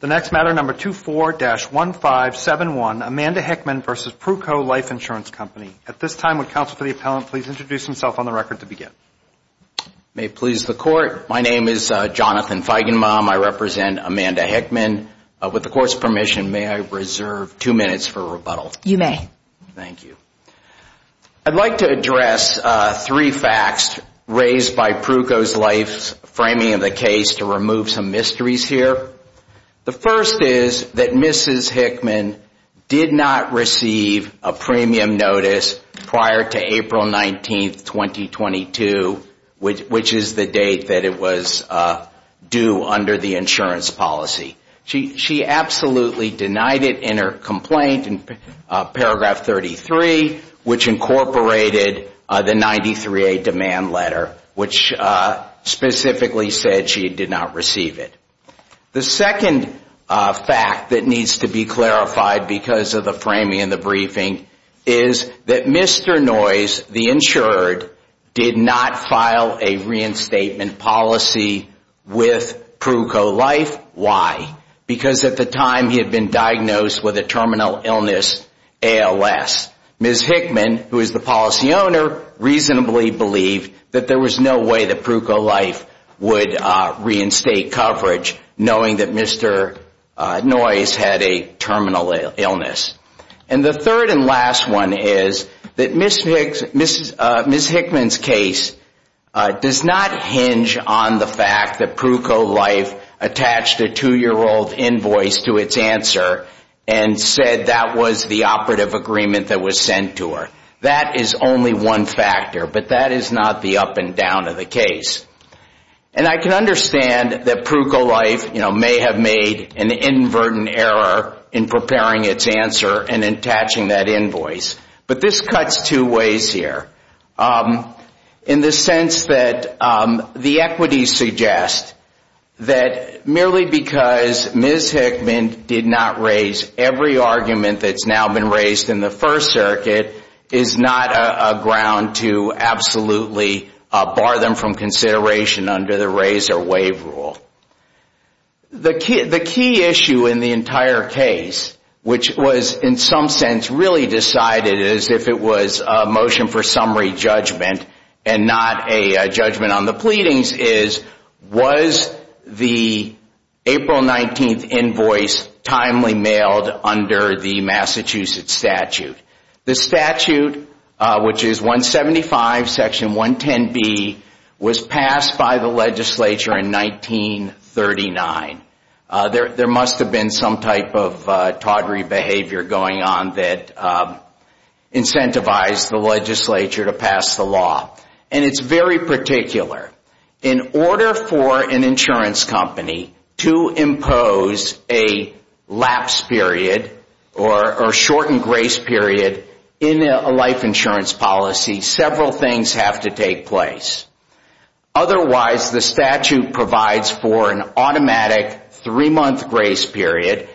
The next matter, number 24-1571, Amanda Hickman v. Pruco Life Insurance Company. At this time, would counsel for the appellant please introduce himself on the record to begin? May it please the court, my name is Jonathan Feigenbaum. I represent Amanda Hickman. With the court's permission, may I reserve two minutes for rebuttal? You may. Thank you. I'd like to address three facts raised by Pruco Life's framing of the case to remove some mysteries here. The first is that Mrs. Hickman did not receive a premium notice prior to April 19, 2022, which is the date that it was due under the insurance policy. She absolutely denied it in her complaint in paragraph 33, which incorporated the 93A demand letter, which specifically said she did not receive it. The second fact that needs to be clarified because of the framing and the briefing is that Mr. Noyes, the insured, did not file a reinstatement policy with Pruco Life. Because at the time he had been diagnosed with a terminal illness, ALS. Mrs. Hickman, who is the policy owner, reasonably believed that there was no way that Pruco Life would reinstate coverage, knowing that Mr. Noyes had a terminal illness. And the third and last one is that Mrs. Hickman's case does not hinge on the fact that Pruco Life attached a two-year-old invoice to its answer and said that was the operative agreement that was sent to her. That is only one factor, but that is not the up and down of the case. And I can understand that Pruco Life may have made an inadvertent error in preparing its answer and attaching that invoice. But this cuts two ways here. In the sense that the equities suggest that merely because Mrs. Hickman did not raise every argument that has now been raised in the First Circuit is not a ground to absolutely bar them from consideration under the raise or waive rule. The key issue in the entire case, which was in some sense really decided as if it was a motion for summary judgment and not a judgment on the pleadings, is was the April 19th invoice timely mailed under the Massachusetts statute? The statute, which is 175 section 110B, was passed by the legislature in 1939. There must have been some type of tawdry behavior going on that incentivized the legislature to pass the law. And it's very particular. In order for an insurance company to impose a lapse period or shortened grace period in a life insurance policy, several things have to take place. Otherwise, the statute provides for an automatic three-month grace period,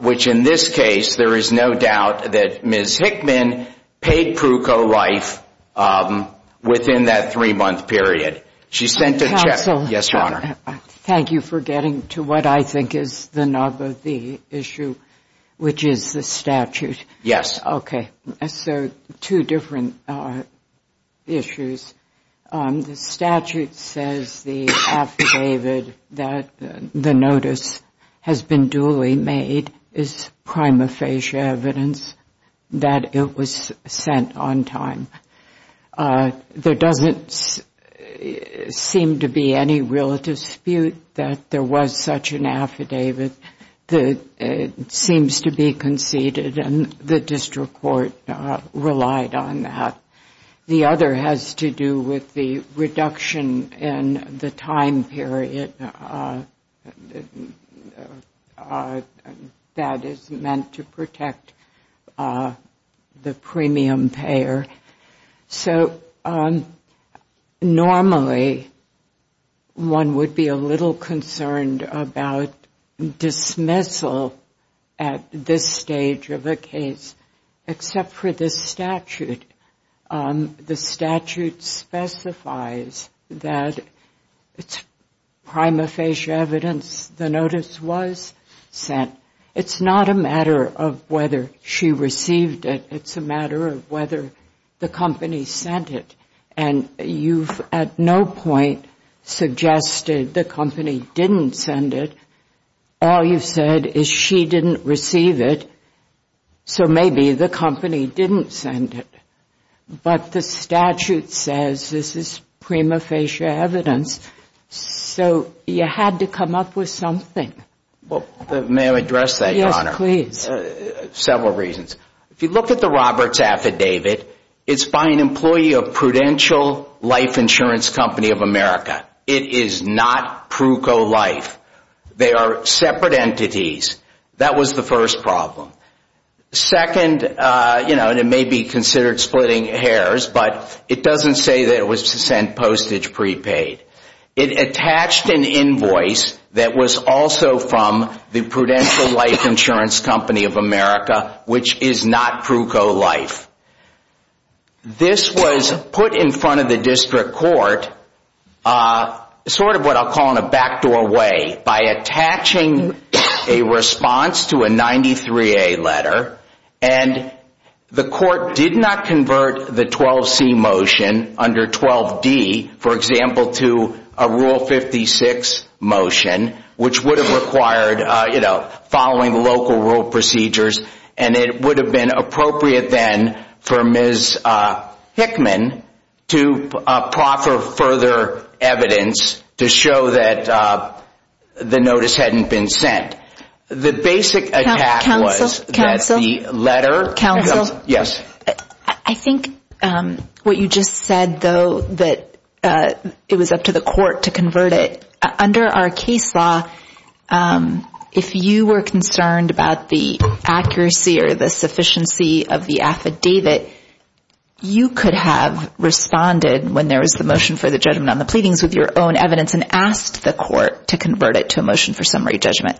which in this case there is no doubt that Ms. Hickman paid Pruco Life within that three-month period. She sent a check. Counsel. Yes, Your Honor. Thank you for getting to what I think is the nub of the issue, which is the statute. Yes. Okay. So two different issues. The statute says the affidavit that the notice has been duly made is prima facie evidence that it was sent on time. There doesn't seem to be any real dispute that there was such an affidavit that seems to be conceded, and the district court relied on that. The other has to do with the reduction in the time period that is meant to protect the premium payer. So normally one would be a little concerned about dismissal at this stage of a case, except for the statute. The statute specifies that it's prima facie evidence the notice was sent. It's not a matter of whether she received it. It's a matter of whether the company sent it, and you've at no point suggested the company didn't send it. All you've said is she didn't receive it, so maybe the company didn't send it. But the statute says this is prima facie evidence, so you had to come up with something. May I address that, Your Honor? Yes, please. Several reasons. If you look at the Roberts affidavit, it's by an employee of Prudential Life Insurance Company of America. It is not Pruko Life. They are separate entities. That was the first problem. Second, and it may be considered splitting hairs, but it doesn't say that it was sent postage prepaid. It attached an invoice that was also from the Prudential Life Insurance Company of America, which is not Pruko Life. This was put in front of the district court, sort of what I'll call in a backdoor way, by attaching a response to a 93A letter, and the court did not convert the 12C motion under 12D, for example, to a Rule 56 motion, which would have required following local rule procedures, and it would have been appropriate then for Ms. Hickman to proffer further evidence to show that the notice hadn't been sent. The basic attack was that the letter… Yes? I think what you just said, though, that it was up to the court to convert it. Under our case law, if you were concerned about the accuracy or the sufficiency of the affidavit, you could have responded when there was the motion for the judgment on the pleadings with your own evidence and asked the court to convert it to a motion for summary judgment,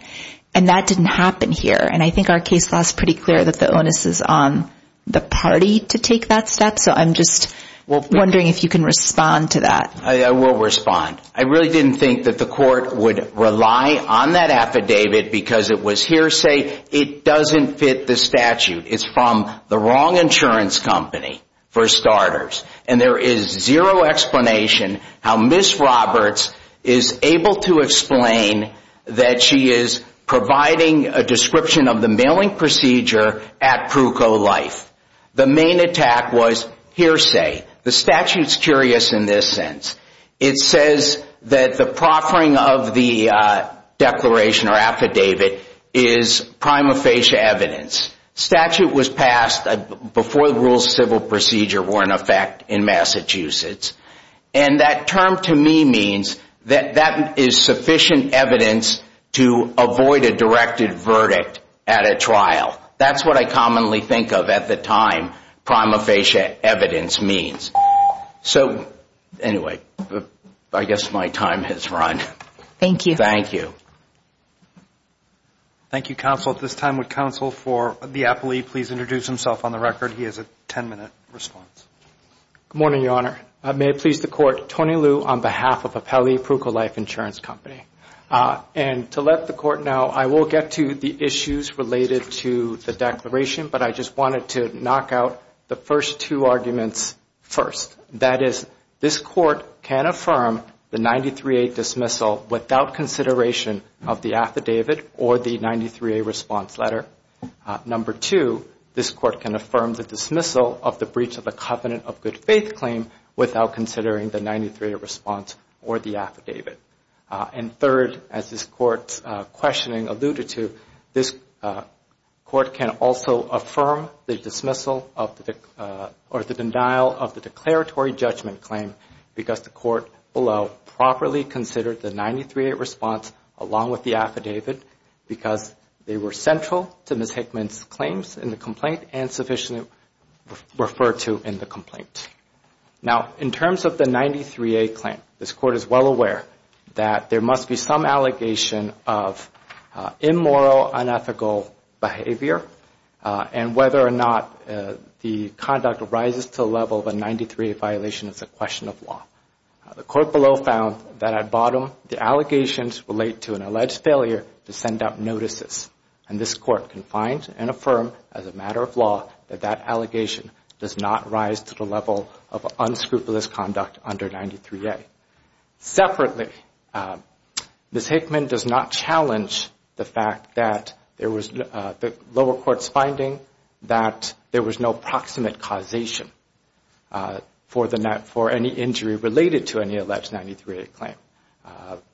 and that didn't happen here, and I think our case law is pretty clear that the onus is on the party to take that step, so I'm just wondering if you can respond to that. I will respond. I really didn't think that the court would rely on that affidavit because it was hearsay. It doesn't fit the statute. It's from the wrong insurance company, for starters, and there is zero explanation how Ms. Roberts is able to explain that she is providing a description of the mailing procedure at Pruco Life. The main attack was hearsay. The statute's curious in this sense. It says that the proffering of the declaration or affidavit is prima facie evidence. The statute was passed before the rules of civil procedure were in effect in Massachusetts, and that term to me means that that is sufficient evidence to avoid a directed verdict at a trial. That's what I commonly think of at the time, prima facie evidence means. So anyway, I guess my time has run. Thank you. Thank you. At this time, would counsel for the appellee please introduce himself on the record? He has a 10-minute response. Good morning, Your Honor. May it please the Court, Tony Liu on behalf of Appellee Pruco Life Insurance Company. And to let the Court know, I will get to the issues related to the declaration, but I just wanted to knock out the first two arguments first. That is, this Court can affirm the 93A dismissal without consideration of the affidavit or the 93A response letter. Number two, this Court can affirm the dismissal of the breach of the covenant of good faith claim without considering the 93A response or the affidavit. And third, as this Court's questioning alluded to, this Court can also affirm the dismissal or the denial of the declaratory judgment claim because the Court below properly considered the 93A response along with the affidavit because they were central to Ms. Hickman's claims in the complaint and sufficiently referred to in the complaint. Now, in terms of the 93A claim, this Court is well aware that there must be some allegation of immoral, unethical behavior and whether or not the conduct rises to the level of a 93A violation is a question of law. The Court below found that at bottom, the allegations relate to an alleged failure to send out notices. And this Court can find and affirm as a matter of law that that allegation does not rise to the level of unscrupulous conduct under 93A. Separately, Ms. Hickman does not challenge the fact that the lower court's finding that there was no proximate causation for any injury related to any alleged 93A claim.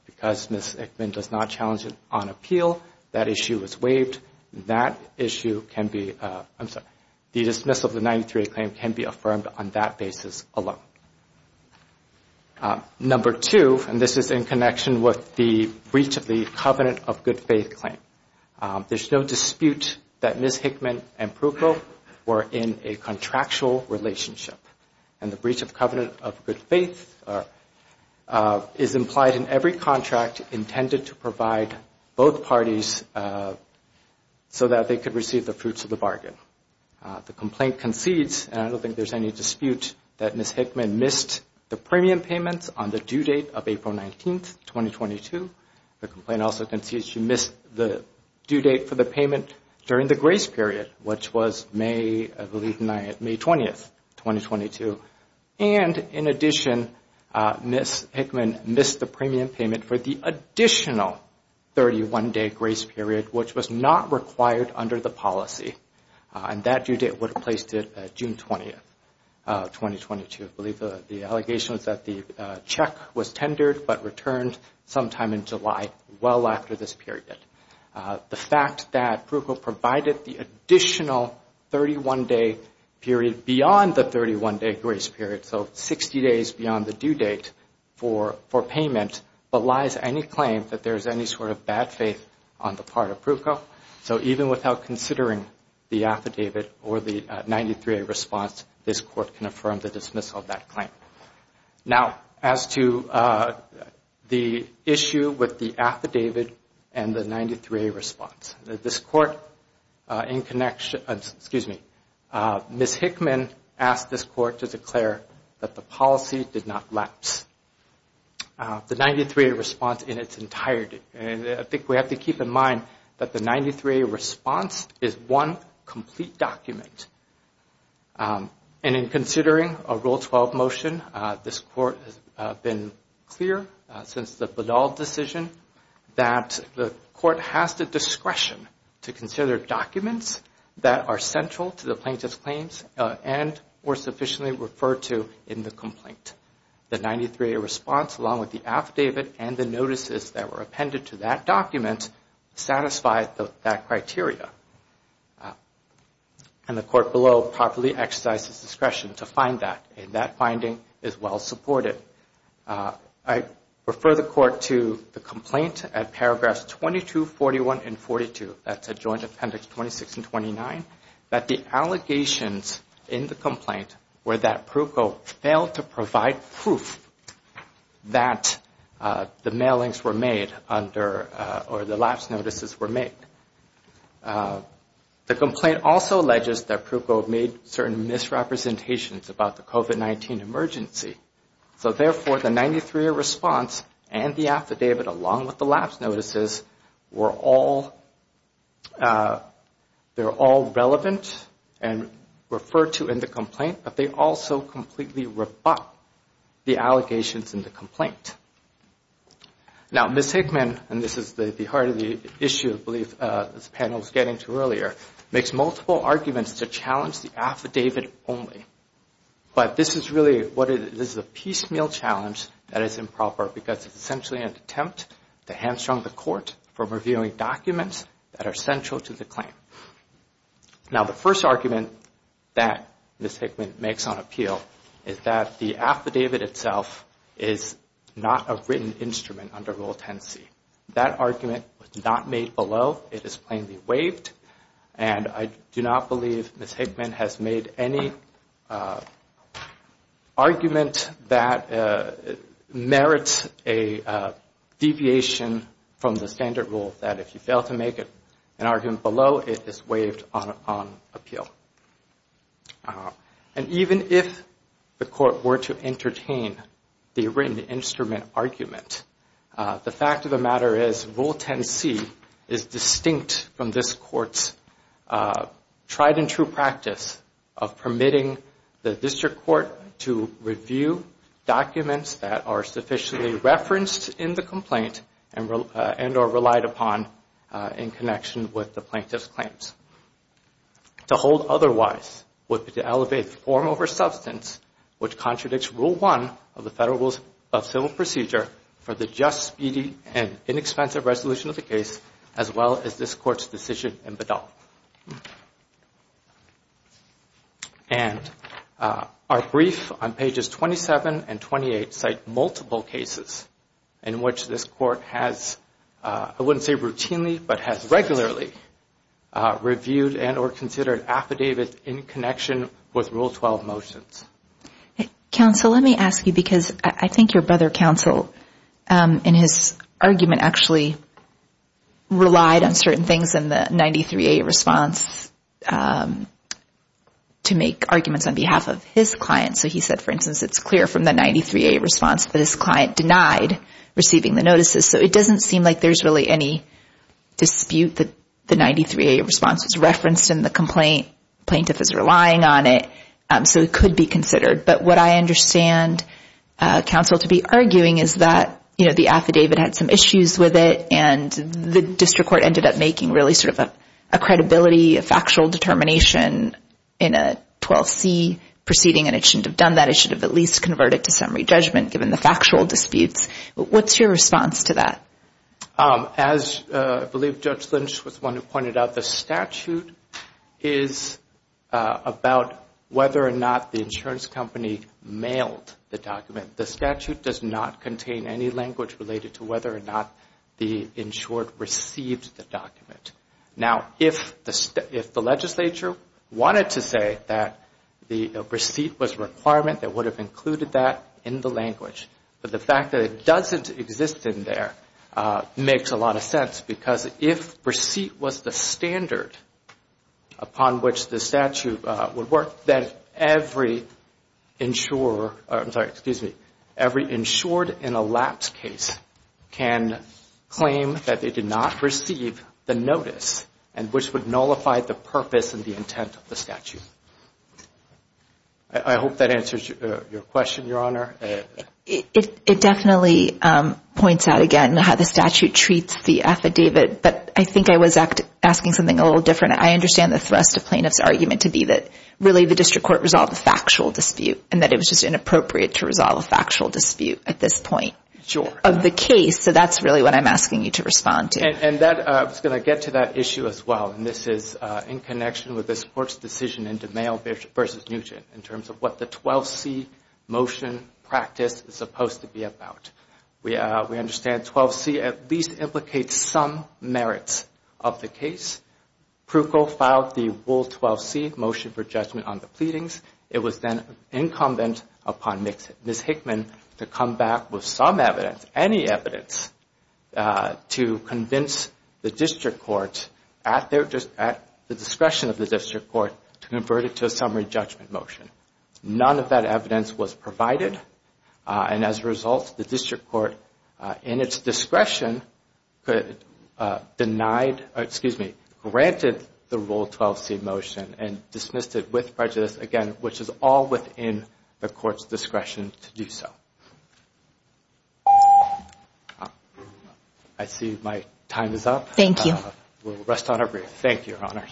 Because Ms. Hickman does not challenge it on appeal, that issue is waived. That issue can be, I'm sorry, the dismissal of the 93A claim can be affirmed on that basis alone. Number two, and this is in connection with the breach of the covenant of good faith claim, there's no dispute that Ms. Hickman and Prukle were in a contractual relationship. And the breach of covenant of good faith is implied in every contract intended to provide both parties so that they could receive the fruits of the bargain. The complaint concedes, and I don't think there's any dispute, that Ms. Hickman missed the premium payments on the due date of April 19, 2022. The complaint also concedes she missed the due date for the payment during the grace period, which was May, I believe, May 20, 2022. And in addition, Ms. Hickman missed the premium payment for the additional 31-day grace period, which was not required under the policy. And that due date would have placed it June 20, 2022. I believe the allegation is that the check was tendered but returned sometime in July, well after this period. The fact that Prukle provided the additional 31-day period beyond the 31-day grace period, so 60 days beyond the due date for payment, belies any claim that there is any sort of bad faith on the part of Prukle. So even without considering the affidavit or the 93A response, this Court can affirm the dismissal of that claim. Now, as to the issue with the affidavit and the 93A response, Ms. Hickman asked this Court to declare that the policy did not lapse. The 93A response in its entirety, and I think we have to keep in mind that the 93A response is one complete document. And in considering a Rule 12 motion, this Court has been clear since the Bedall decision that the Court has the discretion to consider documents that are central to the plaintiff's claims and were sufficiently referred to in the complaint. The 93A response, along with the affidavit and the notices that were appended to that document, satisfy that criteria. And the Court below properly exercises discretion to find that, and that finding is well supported. I refer the Court to the complaint at paragraphs 22, 41, and 42, that's at Joint Appendix 26 and 29, that the allegations in the complaint were that Prukle failed to provide proof that the mailings were made or the lapse notices were made. The complaint also alleges that Prukle made certain misrepresentations about the COVID-19 emergency. So, therefore, the 93A response and the affidavit, along with the lapse notices, they're all relevant and referred to in the complaint, but they also completely rebut the allegations in the complaint. Now, Ms. Hickman, and this is the heart of the issue, I believe, this panel was getting to earlier, makes multiple arguments to challenge the affidavit only. But this is really a piecemeal challenge that is improper because it's essentially an attempt to hamstrung the Court from reviewing documents that are central to the claim. Now, the first argument that Ms. Hickman makes on appeal is that the affidavit itself is not a written instrument under Rule 10c. That argument was not made below. It is plainly waived. And I do not believe Ms. Hickman has made any argument that merits a deviation from the standard rule that if you fail to make an argument below, it is waived on appeal. And even if the Court were to entertain the written instrument argument, the fact of the matter is Rule 10c is distinct from this Court's tried and true practice of permitting the District Court to review documents that are sufficiently referenced in the complaint and or relied upon in connection with the plaintiff's claims. To hold otherwise would be to elevate the form over substance, which contradicts Rule 1 of the Federal Rules of Civil Procedure for the just, speedy, and inexpensive resolution of the case as well as this Court's decision in Bedell. And our brief on pages 27 and 28 cite multiple cases in which this Court has, I wouldn't say routinely, but has regularly reviewed and or considered affidavits in connection with Rule 12 motions. Counsel, let me ask you, because I think your brother, Counsel, in his argument, actually relied on certain things in the 93A response to make arguments on behalf of his client. So he said, for instance, it's clear from the 93A response that his client denied receiving the notices. So it doesn't seem like there's really any dispute that the 93A response is referenced in the complaint. The plaintiff is relying on it. So it could be considered. But what I understand Counsel to be arguing is that the affidavit had some issues with it and the District Court ended up making really sort of a credibility, a factual determination in a 12C proceeding, and it shouldn't have done that. It should have at least converted to summary judgment given the factual disputes. What's your response to that? As I believe Judge Lynch was the one who pointed out, the statute is about whether or not the insurance company mailed the document. The statute does not contain any language related to whether or not the insured received the document. Now, if the legislature wanted to say that the receipt was a requirement, they would have included that in the language. But the fact that it doesn't exist in there makes a lot of sense because if receipt was the standard upon which the statute would work, then every insured in a lapse case can claim that they did not receive the notice and which would nullify the purpose and the intent of the statute. I hope that answers your question, Your Honor. It definitely points out again how the statute treats the affidavit, but I think I was asking something a little different. I understand the thrust of plaintiff's argument to be that, really, the District Court resolved a factual dispute and that it was just inappropriate to resolve a factual dispute at this point of the case. So that's really what I'm asking you to respond to. And I was going to get to that issue as well, and this is in connection with this Court's decision in DeMail v. Nugent in terms of what the 12C motion practice is supposed to be about. We understand 12C at least implicates some merits of the case. Pruchol filed the Wool 12C motion for judgment on the pleadings. It was then incumbent upon Ms. Hickman to come back with some evidence, any evidence, to convince the District Court at the discretion of the District Court to convert it to a summary judgment motion. None of that evidence was provided, and as a result, the District Court, in its discretion, granted the Wool 12C motion and dismissed it with prejudice, again, which is all within the Court's discretion to do so. I see my time is up. We'll rest on our breath. Thank you, Your Honors.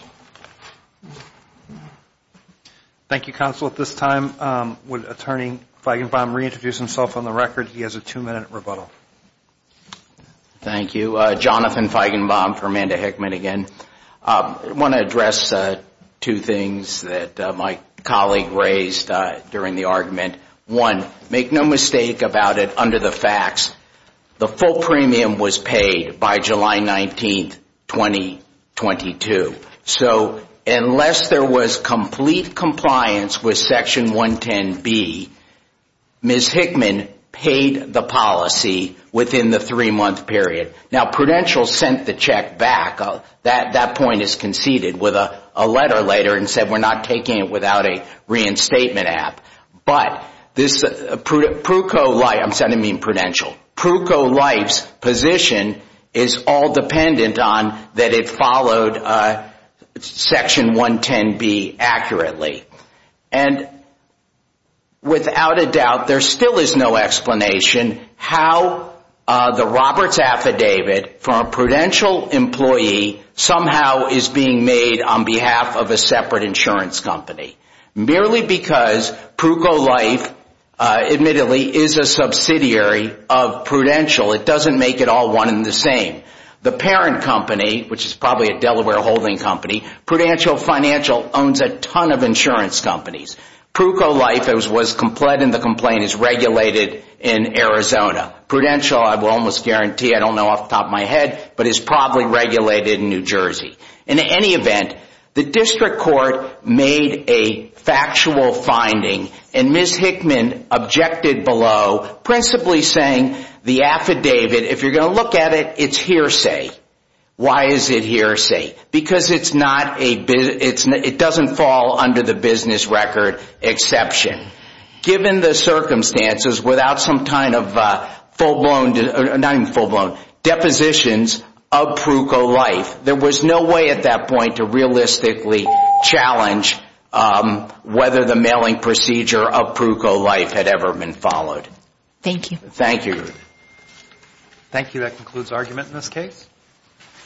Thank you, Counsel. At this time, would Attorney Feigenbaum reintroduce himself on the record? He has a two-minute rebuttal. Thank you. Jonathan Feigenbaum for Amanda Hickman again. I want to address two things that my colleague raised during the argument. One, make no mistake about it. The full premium was paid by July 19, 2022. So unless there was complete compliance with Section 110B, Ms. Hickman paid the policy within the three-month period. Now Prudential sent the check back. That point is conceded with a letter later and said, we're not taking it without a reinstatement app. But Prudential's position is all dependent on that it followed Section 110B accurately. And without a doubt, there still is no explanation how the Roberts Affidavit for a Prudential employee somehow is being made on behalf of a separate insurance company. Merely because Prudential Life, admittedly, is a subsidiary of Prudential, it doesn't make it all one and the same. The parent company, which is probably a Delaware holding company, Prudential Financial owns a ton of insurance companies. Prudential Life was complete and the complaint is regulated in Arizona. Prudential, I will almost guarantee, I don't know off the top of my head, but is probably regulated in New Jersey. In any event, the district court made a factual finding and Ms. Hickman objected below, principally saying the affidavit, if you're going to look at it, it's hearsay. Why is it hearsay? Because it doesn't fall under the business record exception. Given the circumstances, without some kind of full-blown, not even full-blown, depositions of Prudential Life, there was no way at that point to realistically challenge whether the mailing procedure of Prudential Life had ever been followed. Thank you. Thank you. Thank you. That concludes argument in this case.